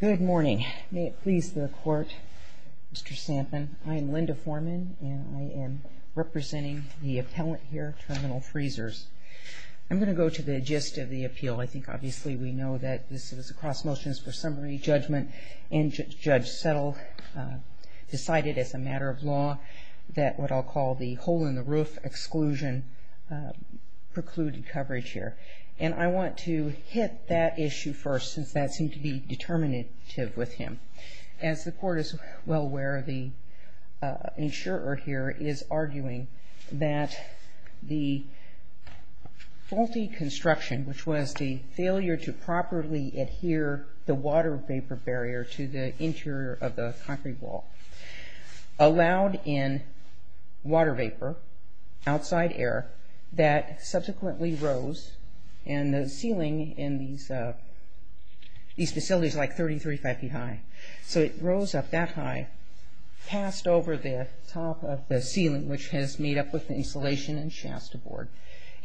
Good morning. May it please the Court, Mr. Sampson. I am Linda Foreman and I am representing the appellant here, Terminal Freezers. I'm going to go to the gist of the appeal. I think obviously we know that this is a cross motion for summary judgment and Judge Settle decided as a matter of law that what I'll call the hole in the roof exclusion precluded coverage here. And I want to hit that issue first since that seemed to be determinative with him. As the Court is well aware, the insurer here is arguing that the faulty construction, which was the failure to properly adhere the water vapor barrier to the interior of the concrete wall, allowed in water vapor outside air that subsequently rose and the ceiling in these facilities is like 33, 35 feet high. So it rose up that high, passed over the top of the ceiling, which has made up with the insulation and shafts aboard.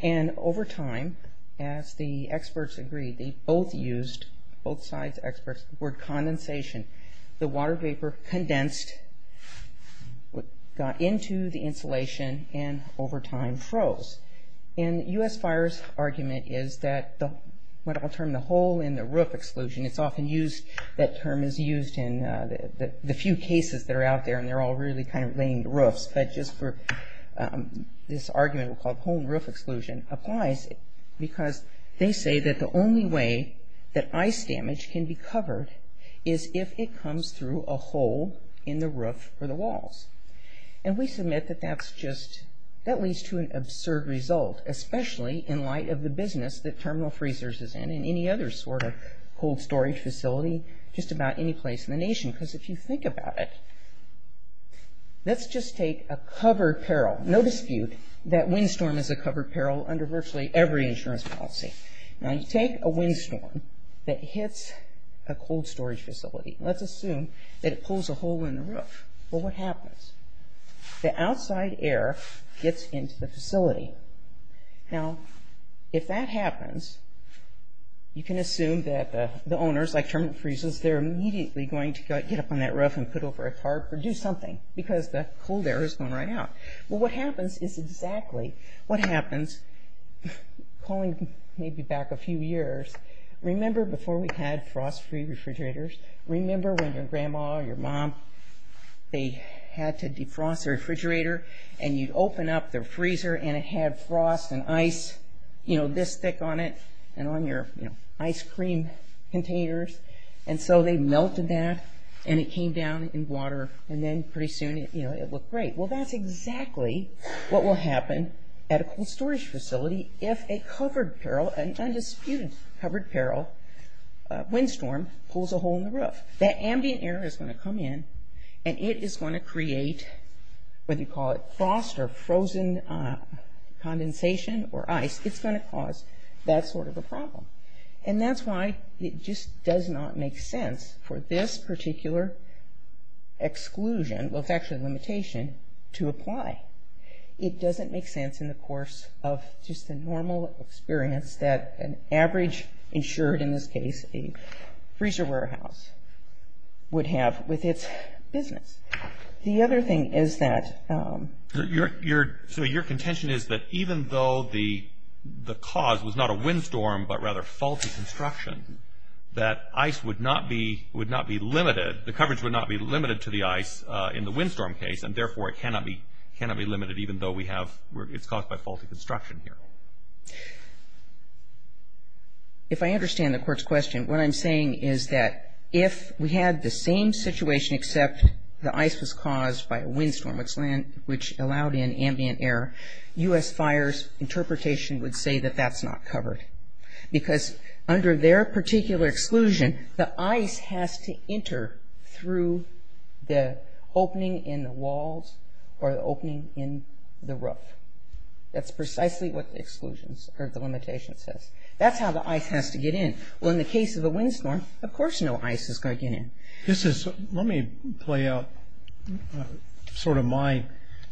And over time, as the experts agreed, they both used, both sides experts, the word condensation. The water vapor condensed, got into the insulation and over time froze. And US Fire's argument is that what I'll term the hole in the roof exclusion, it's often used, that term is used in the few cases that are out there and they're all really kind of lamed roofs. But just for this argument, we'll call it hole in the roof exclusion, applies because they say that the only way that ice damage can be covered is if it comes through a hole in the roof or the walls. And we submit that that's just, that leads to an absurd result, especially in light of the Let's just take a covered peril. No dispute that windstorm is a covered peril under virtually every insurance policy. Now you take a windstorm that hits a cold storage facility. Let's assume that it pulls a hole in the roof. Well, what happens? The outside air gets into the facility. Now, if that happens, you can the cold air is going right out. Well, what happens is exactly what happens. Calling maybe back a few years, remember before we had frost free refrigerators? Remember when your grandma or your mom, they had to defrost their refrigerator and you'd open up their freezer and it had frost and ice, you know, this cream containers? And so they melted that and it came down in water and then pretty soon, you know, it looked great. Well, that's exactly what will happen at a cold storage facility if a covered peril, an undisputed covered peril windstorm pulls a hole in the roof. That ambient air is going to come in and it is going to does not make sense for this particular exclusion, well, it's actually a limitation, to apply. It doesn't make sense in the course of just the normal experience that an average insured, in this case a freezer warehouse, would have with its business. The other thing is that So your contention is that even though the cause was not a windstorm but rather faulty construction, that ice would not be limited, the coverage would not be limited to the ice in the windstorm case and therefore it cannot be limited even though we have, it's caused by faulty construction here. If I understand the court's question, what I'm saying is that if we had the same situation except the ice was caused by a windstorm which allowed in ambient air, U.S. Fire's interpretation would say that that's not covered because under their particular exclusion, the ice has to enter through the opening in the roof. That's precisely what the exclusion, or the limitation says. That's how the ice has to get in. Well in the case of a windstorm, of course no ice is going to get in. This is, let me play out sort of my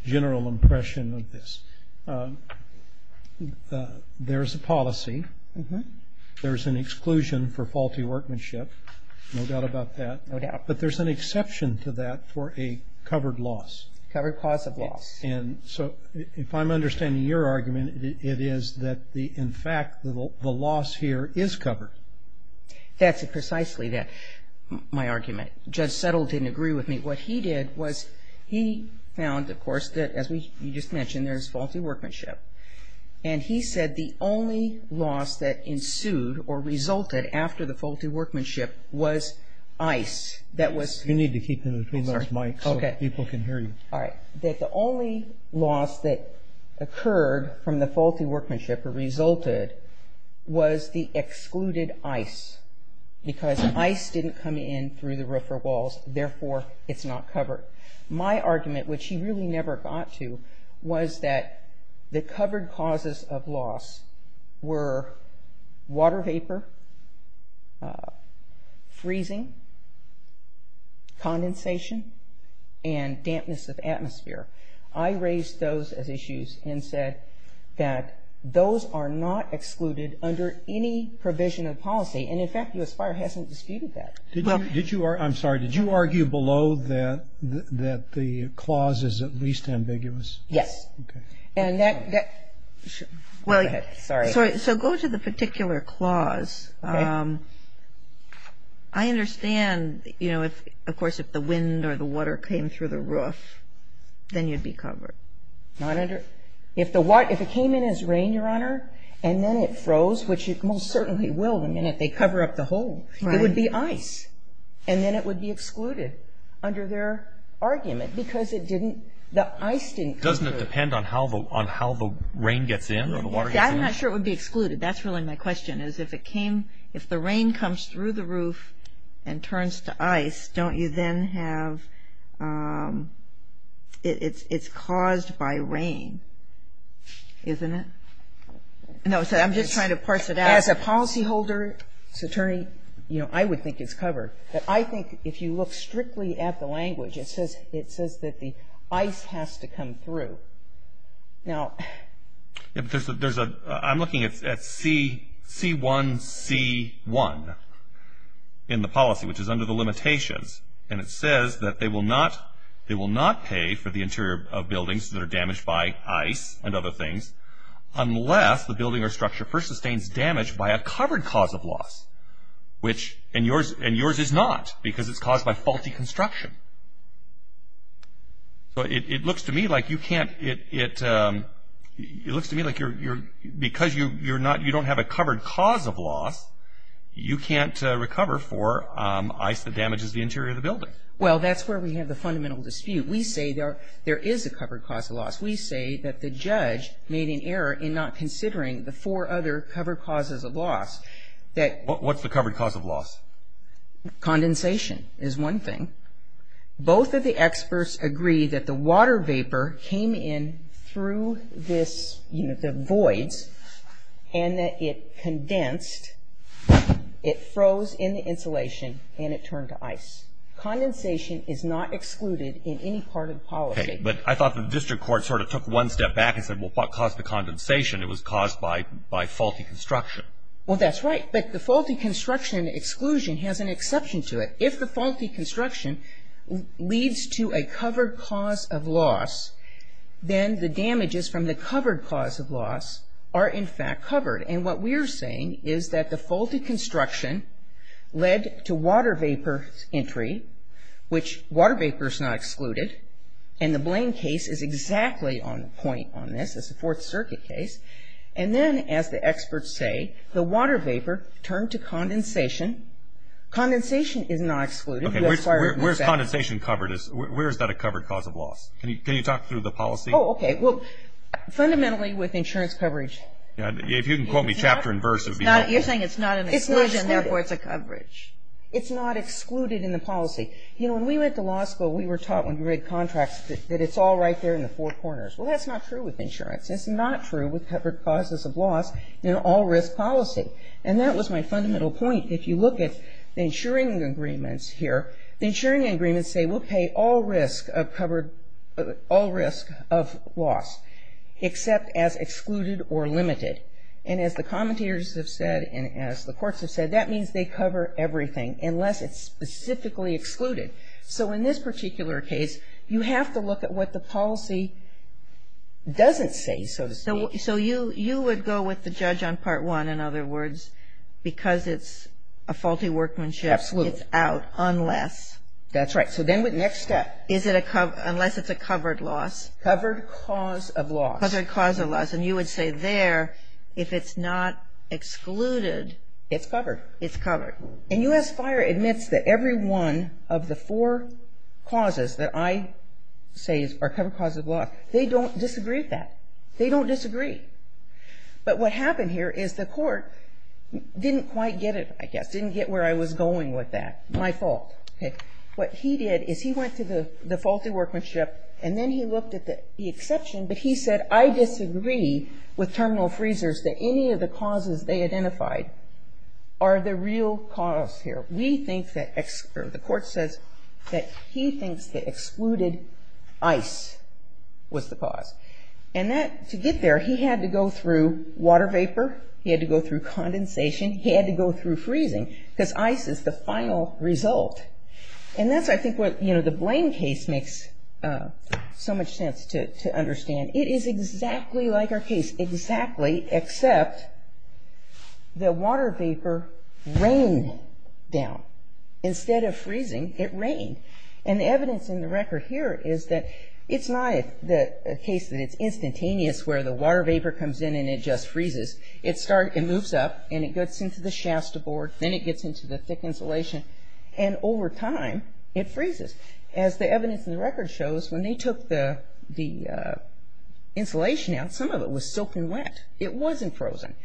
general impression of this. There's a policy, there's an exclusion for faulty workmanship, no doubt about that. No doubt. But there's an exception to that for a covered loss. Covered cause of loss. And so if I'm understanding your argument, it is that in fact the loss here is covered. That's precisely my argument. Judge Settle didn't agree with me. What he did was he found, of course, that as you just mentioned, there's faulty workmanship. And he said the only loss that ensued or resulted after the faulty workmanship was ice. You need to keep in between those mics so people can hear you. Alright, that the only loss that occurred from the faulty workmanship or resulted was the excluded ice. Because ice didn't come in through the roof or walls, therefore it's not covered. My argument, which he really never got to, was that the covered causes of loss were water vapor, freezing, condensation, and dampness of atmosphere. I raised those as issues and said that those are not excluded under any provision of policy. And in fact, U.S. Fire hasn't disputed that. I'm sorry, did you argue below that the clause is at least ambiguous? Yes. So go to the particular clause. I understand, of course, if the wind or the water came through the roof, then you'd be covered. If it came in as rain, Your Honor, and then it froze, which it most certainly will the minute they cover up the hole, it would be ice. And then it would be excluded under their argument because the ice didn't come through. Doesn't it depend on how the rain gets in or the water gets in? I'm not sure it would be excluded. That's really my question. If the rain comes through the roof and turns to ice, don't you then have, it's caused by rain, isn't it? No, I'm just trying to parse it out. As a policyholder, attorney, I would think it's covered. But I think if you look strictly at the language, it says that the ice has to come through. No. I'm looking at C1C1 in the policy, which is under the limitations. And it says that they will not pay for the interior of buildings that are damaged by ice and other things unless the building or structure first sustains damage by a covered cause of loss, which in yours is not because it's caused by faulty construction. So it looks to me like you can't, it looks to me like you're, because you're not, you don't have a covered cause of loss, you can't recover for ice that damages the interior of the building. Well, that's where we have the fundamental dispute. We say there is a covered cause of loss. We say that the judge made an error in not considering the four other covered causes of loss. What's the covered cause of loss? Condensation is one thing. Both of the experts agree that the water vapor came in through this, you know, the voids, and that it condensed, it froze in the insulation, and it turned to ice. Condensation is not excluded in any part of the policy. But I thought the district court sort of took one step back and said, well, what caused the condensation? It was caused by faulty construction. Well, that's right. But the faulty construction exclusion has an exception to it. If the faulty construction leads to a covered cause of loss, then the damages from the covered cause of loss are, in fact, covered. And what we are saying is that the faulty construction led to water vapor entry, which water vapor is not excluded, and the Blaine case is exactly on point on this. It's a Fourth Circuit case. And then, as the experts say, the water vapor turned to condensation. Condensation is not excluded. Where is condensation covered? Where is that a covered cause of loss? Can you talk through the policy? Oh, okay. Well, fundamentally with insurance coverage. If you can quote me chapter and verse, it would be helpful. You're saying it's not an exclusion, therefore it's a coverage. It's not excluded in the policy. You know, when we went to law school, we were taught when we read contracts that it's all right there in the four corners. Well, that's not true with insurance. It's not true with covered causes of loss in an all-risk policy. And that was my fundamental point. If you look at the insuring agreements here, the insuring agreements say we'll pay all risk of covered or all risk of loss except as excluded or limited. And as the commentators have said and as the courts have said, that means they cover everything unless it's specifically excluded. So in this particular case, you have to look at what the policy doesn't say, so to speak. You would go with the judge on part one, in other words, because it's a faulty workmanship. Absolutely. It's out unless. That's right. So then the next step. Unless it's a covered loss. Covered cause of loss. Covered cause of loss. And you would say there if it's not excluded. It's covered. It's covered. And U.S. Fire admits that every one of the four causes that I say are covered causes of loss, they don't disagree with that. They don't disagree. But what happened here is the court didn't quite get it, I guess. Didn't get where I was going with that. My fault. Okay. What he did is he went to the faulty workmanship, and then he looked at the exception, but he said I disagree with terminal freezers that any of the causes they identified are the real cause here. We think that the court says that he thinks that excluded ice was the cause. And to get there, he had to go through water vapor. He had to go through condensation. He had to go through freezing because ice is the final result. And that's, I think, what the Blaine case makes so much sense to understand. It is exactly like our case, exactly, except the water vapor rained down. Instead of freezing, it rained. And the evidence in the record here is that it's not a case that it's instantaneous where the water vapor comes in and it just freezes. It moves up, and it gets into the shafts to board. Then it gets into the thick insulation. And over time, it freezes. As the evidence in the record shows, when they took the insulation out, some of it was soaked and wet. It wasn't frozen.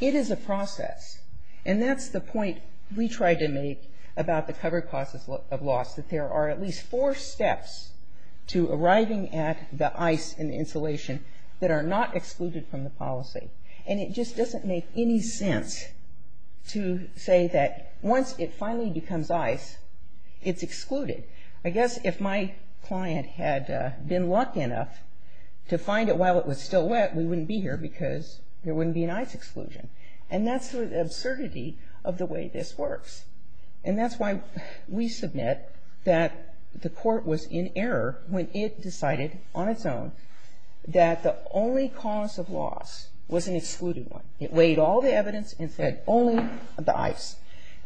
It is a process. And that's the point we try to make about the covered causes of loss, that there are at least four steps to arriving at the ice and insulation that are not excluded from the policy. And it just doesn't make any sense to say that once it finally becomes ice, it's excluded. I guess if my client had been lucky enough to find it while it was still wet, we wouldn't be here because there wouldn't be an ice exclusion. And that's the absurdity of the way this works. And that's why we submit that the court was in error when it decided on its own that the only cause of loss was an excluded one. It weighed all the evidence and said only the ice.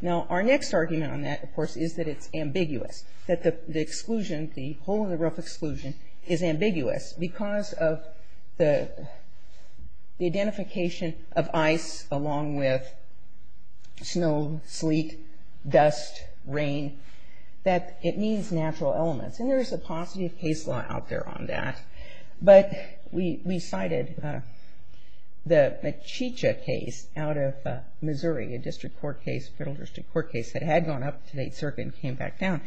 Now, our next argument on that, of course, is that it's ambiguous, that the exclusion, the hole-in-the-roof exclusion, is ambiguous because of the identification of ice along with snow, sleet, dust, rain, that it needs natural elements. And there's a positive case law out there on that. But we cited the Machicha case out of Missouri, a district court case, a federal district court case that had gone up to the 8th Circuit and came back down,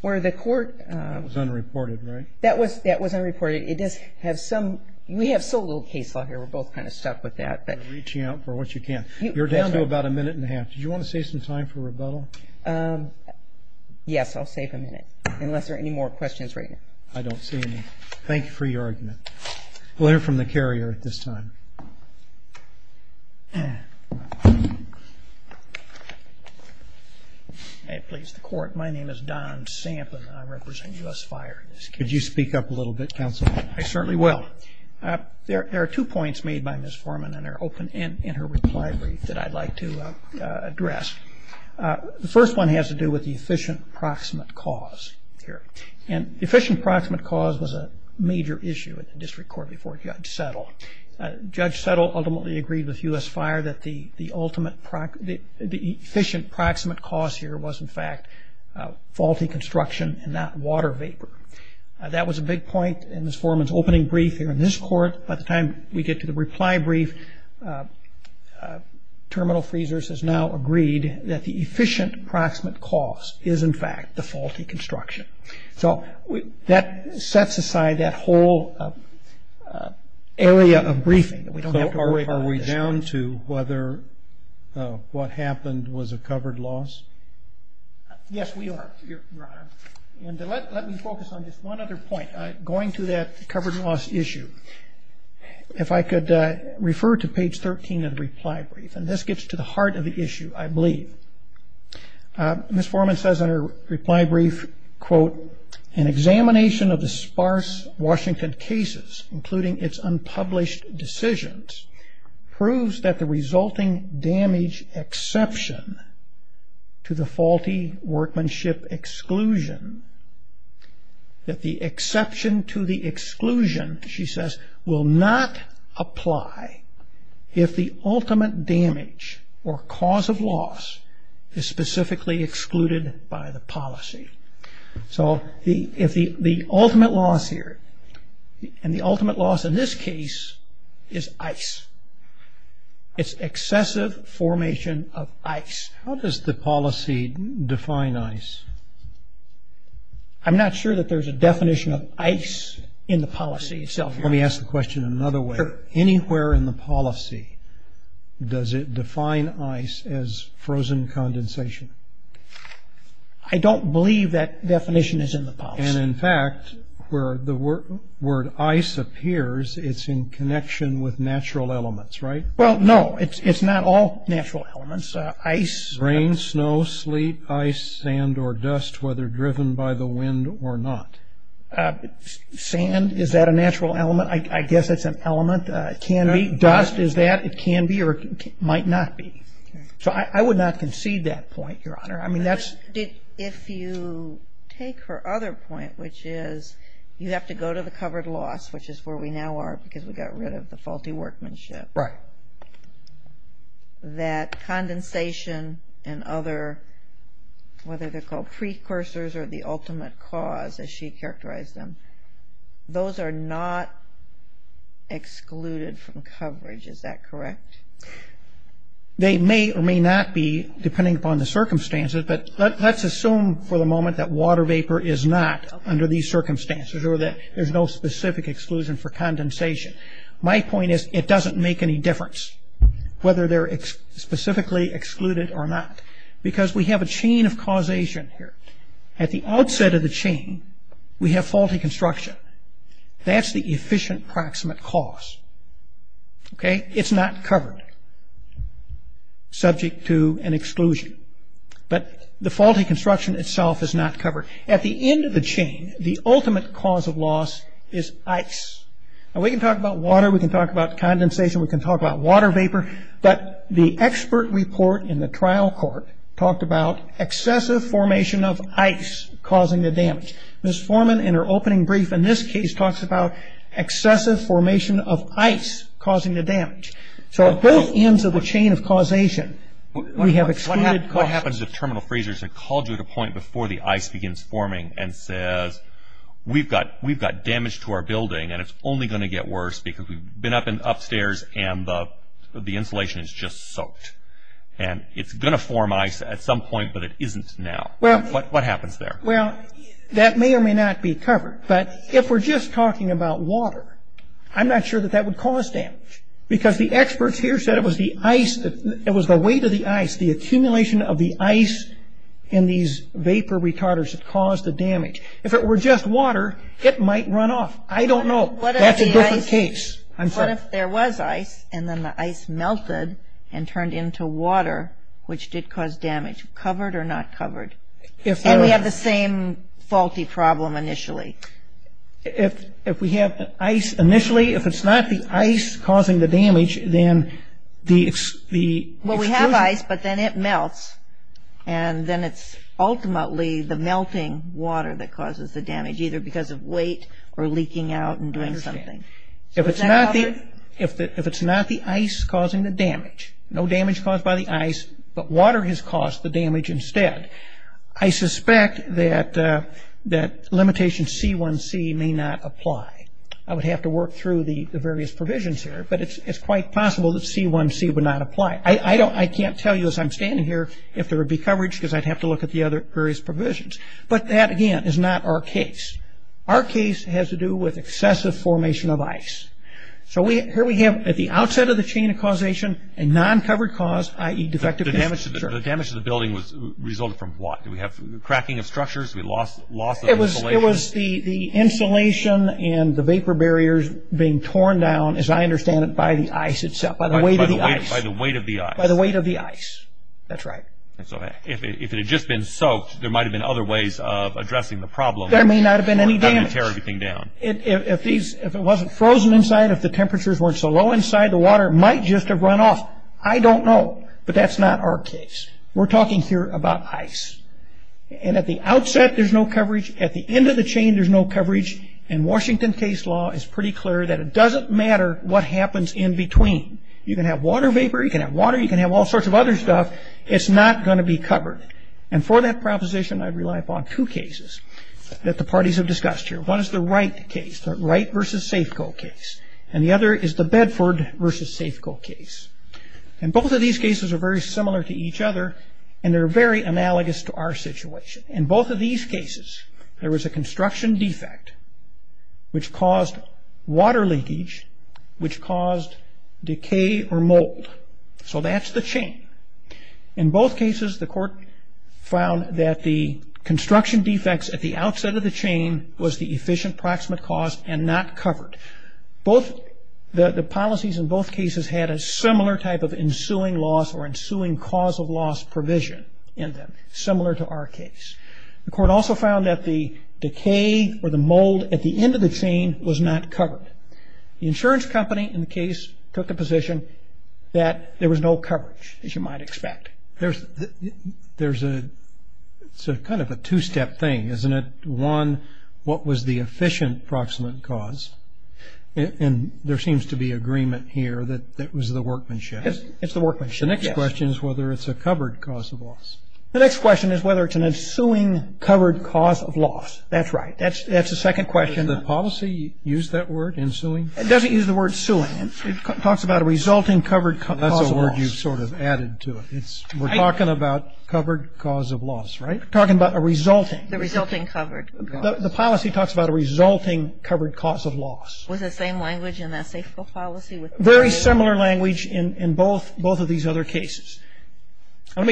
where the court... That was unreported, right? That was unreported. It does have some... We have so little case law here, we're both kind of stuck with that. Reaching out for what you can. You're down to about a minute and a half. Did you want to save some time for rebuttal? Yes, I'll save a minute, unless there are any more questions right now. I don't see any. Thank you for your argument. We'll hear from the carrier at this time. Please, the court. My name is Don Sampin, and I represent U.S. Fire. Could you speak up a little bit, counsel? I certainly will. There are two points made by Ms. Foreman, and they're open in her reply brief, that I'd like to address. The first one has to do with the efficient proximate cause here. The efficient proximate cause was a major issue at the district court before Judge Settle. Judge Settle ultimately agreed with U.S. Fire that the efficient proximate cause here was, in fact, faulty construction and not water vapor. That was a big point in Ms. Foreman's opening brief here in this court. By the time we get to the reply brief, Terminal Freezers has now agreed that the efficient proximate cause is, in fact, the faulty construction. So that sets aside that whole area of briefing. Are we down to whether what happened was a covered loss? Yes, we are, Your Honor. And let me focus on just one other point. Going to that covered loss issue, if I could refer to page 13 of the reply brief, and this gets to the heart of the issue, I believe. Ms. Foreman says in her reply brief, quote, an examination of the sparse Washington cases, including its unpublished decisions, proves that the resulting damage exception to the faulty workmanship exclusion, that the exception to the exclusion, she says, will not apply if the ultimate damage or cause of loss is specifically excluded by the policy. So the ultimate loss here, and the ultimate loss in this case, is ice. It's excessive formation of ice. How does the policy define ice? I'm not sure that there's a definition of ice in the policy itself, Your Honor. Let me ask the question another way. Anywhere in the policy, does it define ice as frozen condensation? I don't believe that definition is in the policy. And, in fact, where the word ice appears, it's in connection with natural elements, right? Well, no. It's not all natural elements. Rain, snow, sleet, ice, sand, or dust, whether driven by the wind or not. Sand, is that a natural element? I guess it's an element. It can be. Dust, is that? It can be or it might not be. So I would not concede that point, Your Honor. If you take her other point, which is you have to go to the covered loss, which is where we now are because we got rid of the faulty workmanship, that condensation and other, whether they're called precursors or the ultimate cause, as she characterized them, those are not excluded from coverage. Is that correct? They may or may not be, depending upon the circumstances, but let's assume for the moment that water vapor is not under these circumstances or that there's no specific exclusion for condensation. My point is it doesn't make any difference whether they're specifically excluded or not because we have a chain of causation here. At the outset of the chain, we have faulty construction. That's the efficient proximate cause, okay? It's not covered, subject to an exclusion. But the faulty construction itself is not covered. At the end of the chain, the ultimate cause of loss is ice. Now, we can talk about water. We can talk about condensation. We can talk about water vapor. But the expert report in the trial court talked about excessive formation of ice causing the damage. Ms. Foreman, in her opening brief in this case, talks about excessive formation of ice causing the damage. So at both ends of the chain of causation, we have excluded causes. What happens if Terminal Frasers had called you at a point before the ice begins forming and says, we've got damage to our building and it's only going to get worse because we've been up in upstairs and the insulation is just soaked and it's going to form ice at some point, but it isn't now? What happens there? Well, that may or may not be covered. But if we're just talking about water, I'm not sure that that would cause damage because the experts here said it was the weight of the ice, it's the accumulation of the ice in these vapor retarders that caused the damage. If it were just water, it might run off. I don't know. That's a different case. I'm sorry. What if there was ice and then the ice melted and turned into water, which did cause damage, covered or not covered? And we have the same faulty problem initially. If we have ice initially, if it's not the ice causing the damage, then the exclusion. It's the ice, but then it melts, and then it's ultimately the melting water that causes the damage, either because of weight or leaking out and doing something. I understand. If it's not the ice causing the damage, no damage caused by the ice, but water has caused the damage instead, I suspect that limitation C1c may not apply. I would have to work through the various provisions here, but it's quite possible that C1c would not apply. I can't tell you as I'm standing here if there would be coverage because I'd have to look at the other various provisions. But that, again, is not our case. Our case has to do with excessive formation of ice. So here we have, at the outset of the chain of causation, a non-covered cause, i.e. defective infrastructure. The damage to the building resulted from what? Did we have cracking of structures? We lost the insulation? It was the insulation and the vapor barriers being torn down, as I understand it, by the ice itself, by the weight of the ice. By the weight of the ice. That's right. If it had just been soaked, there might have been other ways of addressing the problem. There may not have been any damage. If it wasn't frozen inside, if the temperatures weren't so low inside, the water might just have run off. I don't know, but that's not our case. We're talking here about ice. And at the outset, there's no coverage. At the end of the chain, there's no coverage. And Washington case law is pretty clear that it doesn't matter what happens in between. You can have water vapor, you can have water, you can have all sorts of other stuff. It's not going to be covered. And for that proposition, I rely upon two cases that the parties have discussed here. One is the Wright case, the Wright v. Safeco case. And the other is the Bedford v. Safeco case. And both of these cases are very similar to each other, and they're very analogous to our situation. In both of these cases, there was a construction defect, which caused water leakage, which caused decay or mold. So that's the chain. In both cases, the court found that the construction defects at the outset of the chain was the efficient proximate cause and not covered. The policies in both cases had a similar type of ensuing loss or ensuing cause of loss provision in them, similar to our case. The court also found that the decay or the mold at the end of the chain was not covered. The insurance company in the case took a position that there was no coverage, as you might expect. There's a kind of a two-step thing, isn't it? One, what was the efficient proximate cause? And there seems to be agreement here that that was the workmanship. It's the workmanship, yes. The next question is whether it's a covered cause of loss. The next question is whether it's an ensuing covered cause of loss. That's right. That's the second question. Did the policy use that word, ensuing? It doesn't use the word suing. It talks about a resulting covered cause of loss. That's a word you've sort of added to it. We're talking about covered cause of loss, right? We're talking about a resulting. The resulting covered cause of loss. The policy talks about a resulting covered cause of loss. Was it the same language in the SAFCO policy? Very similar language in both of these other cases. I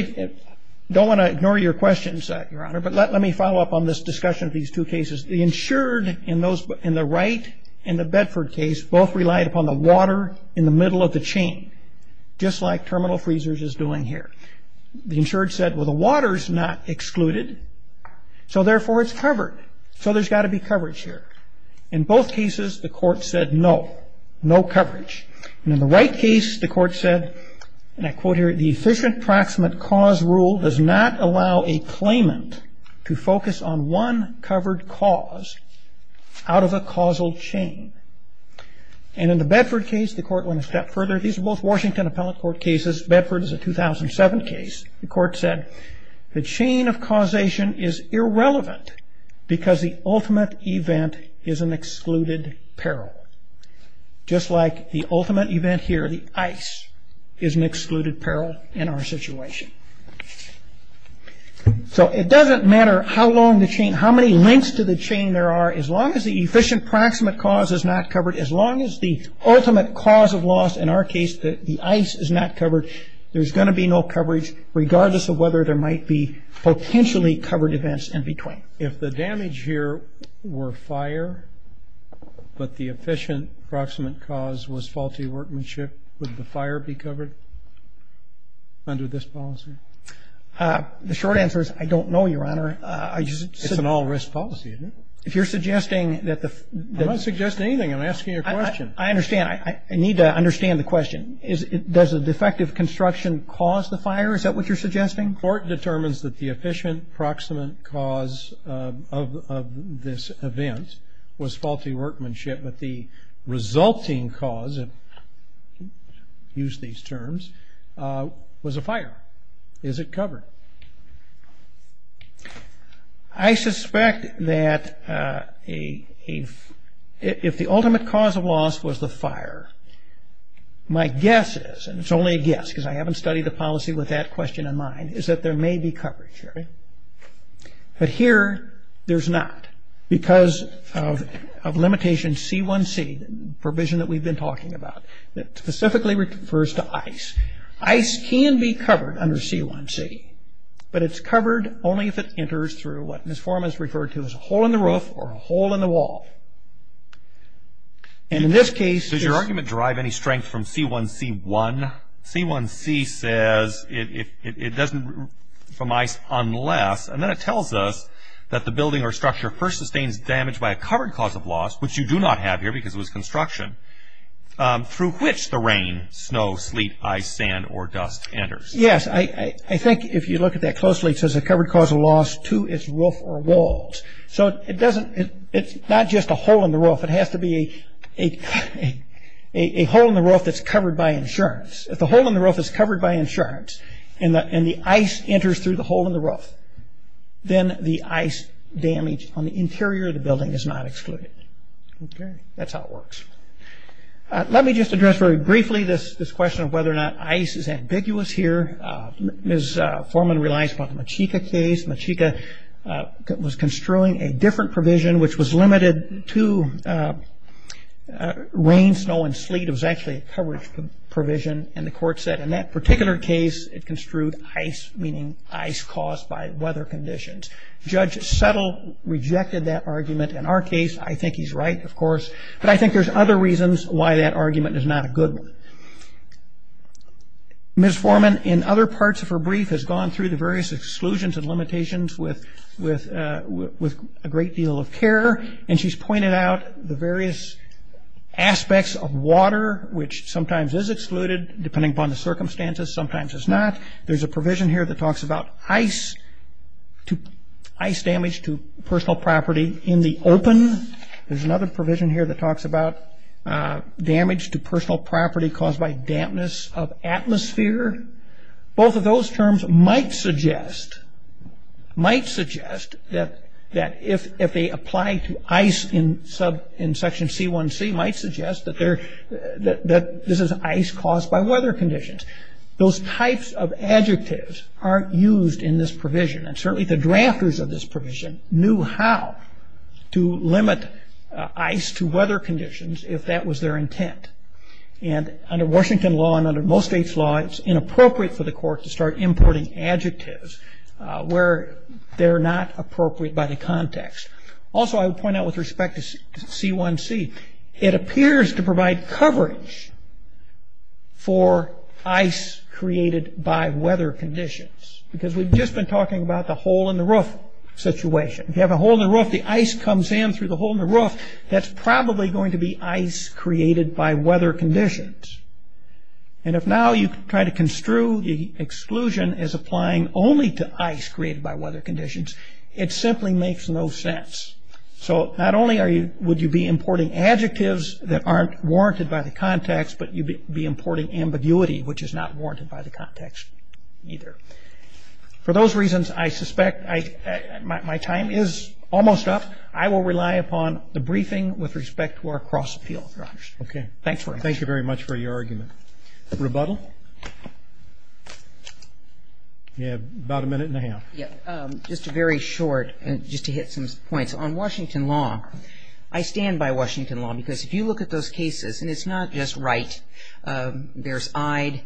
don't want to ignore your questions, Your Honor, but let me follow up on this discussion of these two cases. The insured in the Wright and the Bedford case both relied upon the water in the middle of the chain, just like terminal freezers is doing here. The insured said, well, the water's not excluded, so therefore it's covered, so there's got to be coverage here. In both cases, the court said no, no coverage. In the Wright case, the court said, and I quote here, the efficient proximate cause rule does not allow a claimant to focus on one covered cause out of a causal chain. And in the Bedford case, the court went a step further. These are both Washington Appellate Court cases. Bedford is a 2007 case. The court said the chain of causation is irrelevant because the ultimate event is an excluded peril, just like the ultimate event here, the ice, is an excluded peril in our situation. So it doesn't matter how long the chain, how many links to the chain there are, as long as the efficient proximate cause is not covered, as long as the ultimate cause of loss in our case, the ice, is not covered, there's going to be no coverage, regardless of whether there might be potentially covered events in between. If the damage here were fire, but the efficient proximate cause was faulty workmanship, would the fire be covered under this policy? The short answer is I don't know, Your Honor. It's an all-risk policy, isn't it? If you're suggesting that the ---- I'm not suggesting anything. I'm asking you a question. I understand. I need to understand the question. Does a defective construction cause the fire? Is that what you're suggesting? The court determines that the efficient proximate cause of this event was faulty workmanship, but the resulting cause, if you use these terms, was a fire. Is it covered? I suspect that if the ultimate cause of loss was the fire, my guess is, and it's only a guess because I haven't studied the policy with that question in mind, is that there may be coverage, Your Honor. But here, there's not because of limitation C1C, the provision that we've been talking about, that specifically refers to ice. Ice can be covered under C1C, but it's covered only if it enters through what Ms. Foreman has referred to as a hole in the roof or a hole in the wall. And in this case ---- Does your argument derive any strength from C1C1? C1C says it doesn't from ice unless, and then it tells us that the building or structure first sustains damage by a covered cause of loss, which you do not have here because it was construction, through which the rain, snow, sleet, ice, sand, or dust enters. Yes, I think if you look at that closely, it says a covered cause of loss to its roof or walls. So it's not just a hole in the roof. It has to be a hole in the roof that's covered by insurance. If the hole in the roof is covered by insurance and the ice enters through the hole in the roof, then the ice damage on the interior of the building is not excluded. Okay, that's how it works. Let me just address very briefly this question of whether or not ice is ambiguous here. Ms. Foreman relies upon the Machika case. Machika was construing a different provision, which was limited to rain, snow, and sleet. It was actually a coverage provision, and the court said in that particular case it construed ice, meaning ice caused by weather conditions. Judge Settle rejected that argument. In our case, I think he's right, of course, but I think there's other reasons why that argument is not a good one. Ms. Foreman, in other parts of her brief, has gone through the various exclusions and limitations with a great deal of care, and she's pointed out the various aspects of water, which sometimes is excluded depending upon the circumstances, sometimes it's not. There's a provision here that talks about ice damage to personal property in the open. There's another provision here that talks about damage to personal property caused by dampness of atmosphere. Both of those terms might suggest that if they apply to ice in section C1C, might suggest that this is ice caused by weather conditions. Those types of adjectives aren't used in this provision, and certainly the drafters of this provision knew how to limit ice to weather conditions if that was their intent. Under Washington law and under most states' law, it's inappropriate for the court to start importing adjectives where they're not appropriate by the context. Also, I would point out with respect to C1C, it appears to provide coverage for ice created by weather conditions, because we've just been talking about the hole-in-the-roof situation. If you have a hole-in-the-roof, the ice comes in through the hole-in-the-roof, that's probably going to be ice created by weather conditions. And if now you try to construe the exclusion as applying only to ice created by weather conditions, it simply makes no sense. So not only would you be importing adjectives that aren't warranted by the context, but you'd be importing ambiguity, which is not warranted by the context either. For those reasons, I suspect my time is almost up. I will rely upon the briefing with respect to our cross-appeal. Thanks very much. Thank you very much for your argument. Rebuttal? You have about a minute and a half. Just very short, just to hit some points. On Washington law, I stand by Washington law, because if you look at those cases, and it's not just Wright, there's Ide.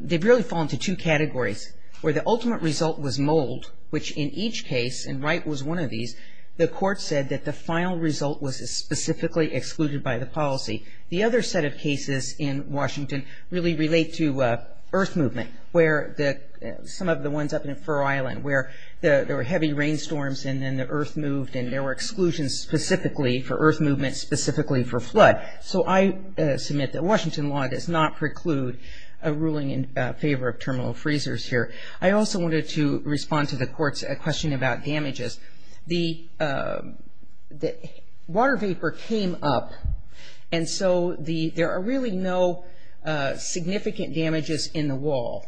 They've really fallen to two categories, where the ultimate result was mold, which in each case, and Wright was one of these, the court said that the final result was specifically excluded by the policy. The other set of cases in Washington really relate to earth movement, where some of the ones up in Fur Island, where there were heavy rainstorms and then the earth moved, and there were exclusions specifically for earth movement, specifically for flood. So I submit that Washington law does not preclude a ruling in favor of terminal freezers here. I also wanted to respond to the court's question about damages. The water vapor came up, and so there are really no significant damages in the wall.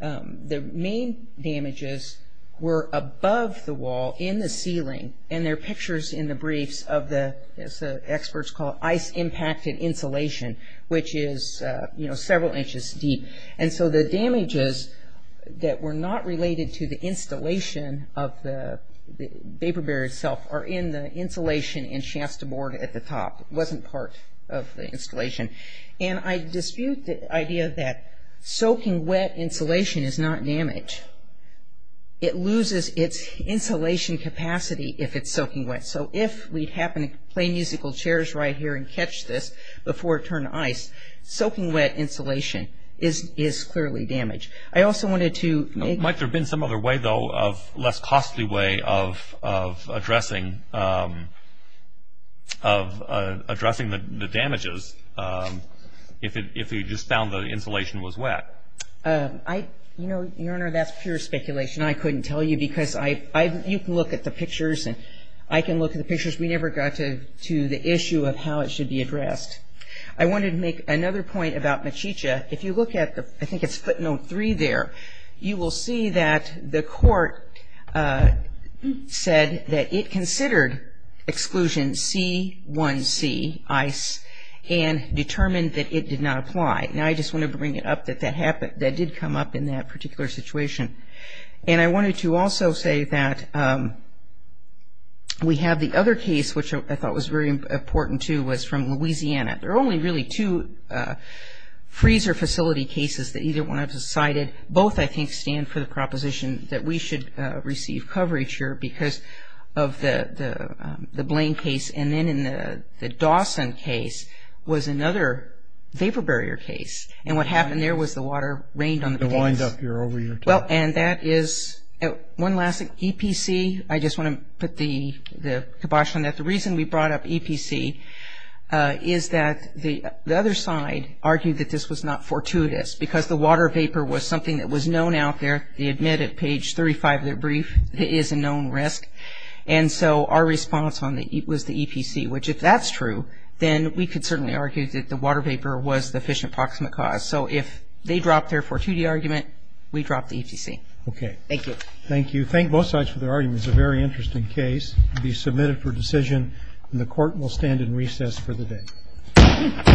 The main damages were above the wall in the ceiling, and there are pictures in the briefs of the, as the experts call it, ice impacted insulation, which is several inches deep. And so the damages that were not related to the installation of the vapor barrier itself are in the insulation in Shasta Board at the top. It wasn't part of the installation. And I dispute the idea that soaking wet insulation is not damage. It loses its insulation capacity if it's soaking wet. So if we happen to play musical chairs right here and catch this before it turned to ice, soaking wet insulation is clearly damage. I also wanted to make... Might there have been some other way, though, of less costly way of addressing the damages if we just found the insulation was wet? Your Honor, that's pure speculation. I couldn't tell you because you can look at the pictures and I can look at the pictures. We never got to the issue of how it should be addressed. I wanted to make another point about Mechicha. If you look at the, I think it's footnote three there, you will see that the court said that it considered exclusion C1C, ice, and determined that it did not apply. Now I just want to bring it up that that did come up in that particular situation. And I wanted to also say that we have the other case, which I thought was very important, too, was from Louisiana. There are only really two freezer facility cases that either one I've decided. Both, I think, stand for the proposition that we should receive coverage here because of the Blaine case. And then in the Dawson case was another vapor barrier case. And what happened there was the water rained on the case. It wind up here over your top. Well, and that is... One last thing, EPC, I just want to put the kibosh on that. The reason we brought up EPC is that the other side argued that this was not fortuitous because the water vapor was something that was known out there. They admit at page 35 of their brief it is a known risk. And so our response was the EPC, which if that's true, then we could certainly argue that the water vapor was the efficient proximate cause. Okay. Thank you. Thank you. Thank both sides for their arguments. It's a very interesting case. It will be submitted for decision, and the Court will stand in recess for the day.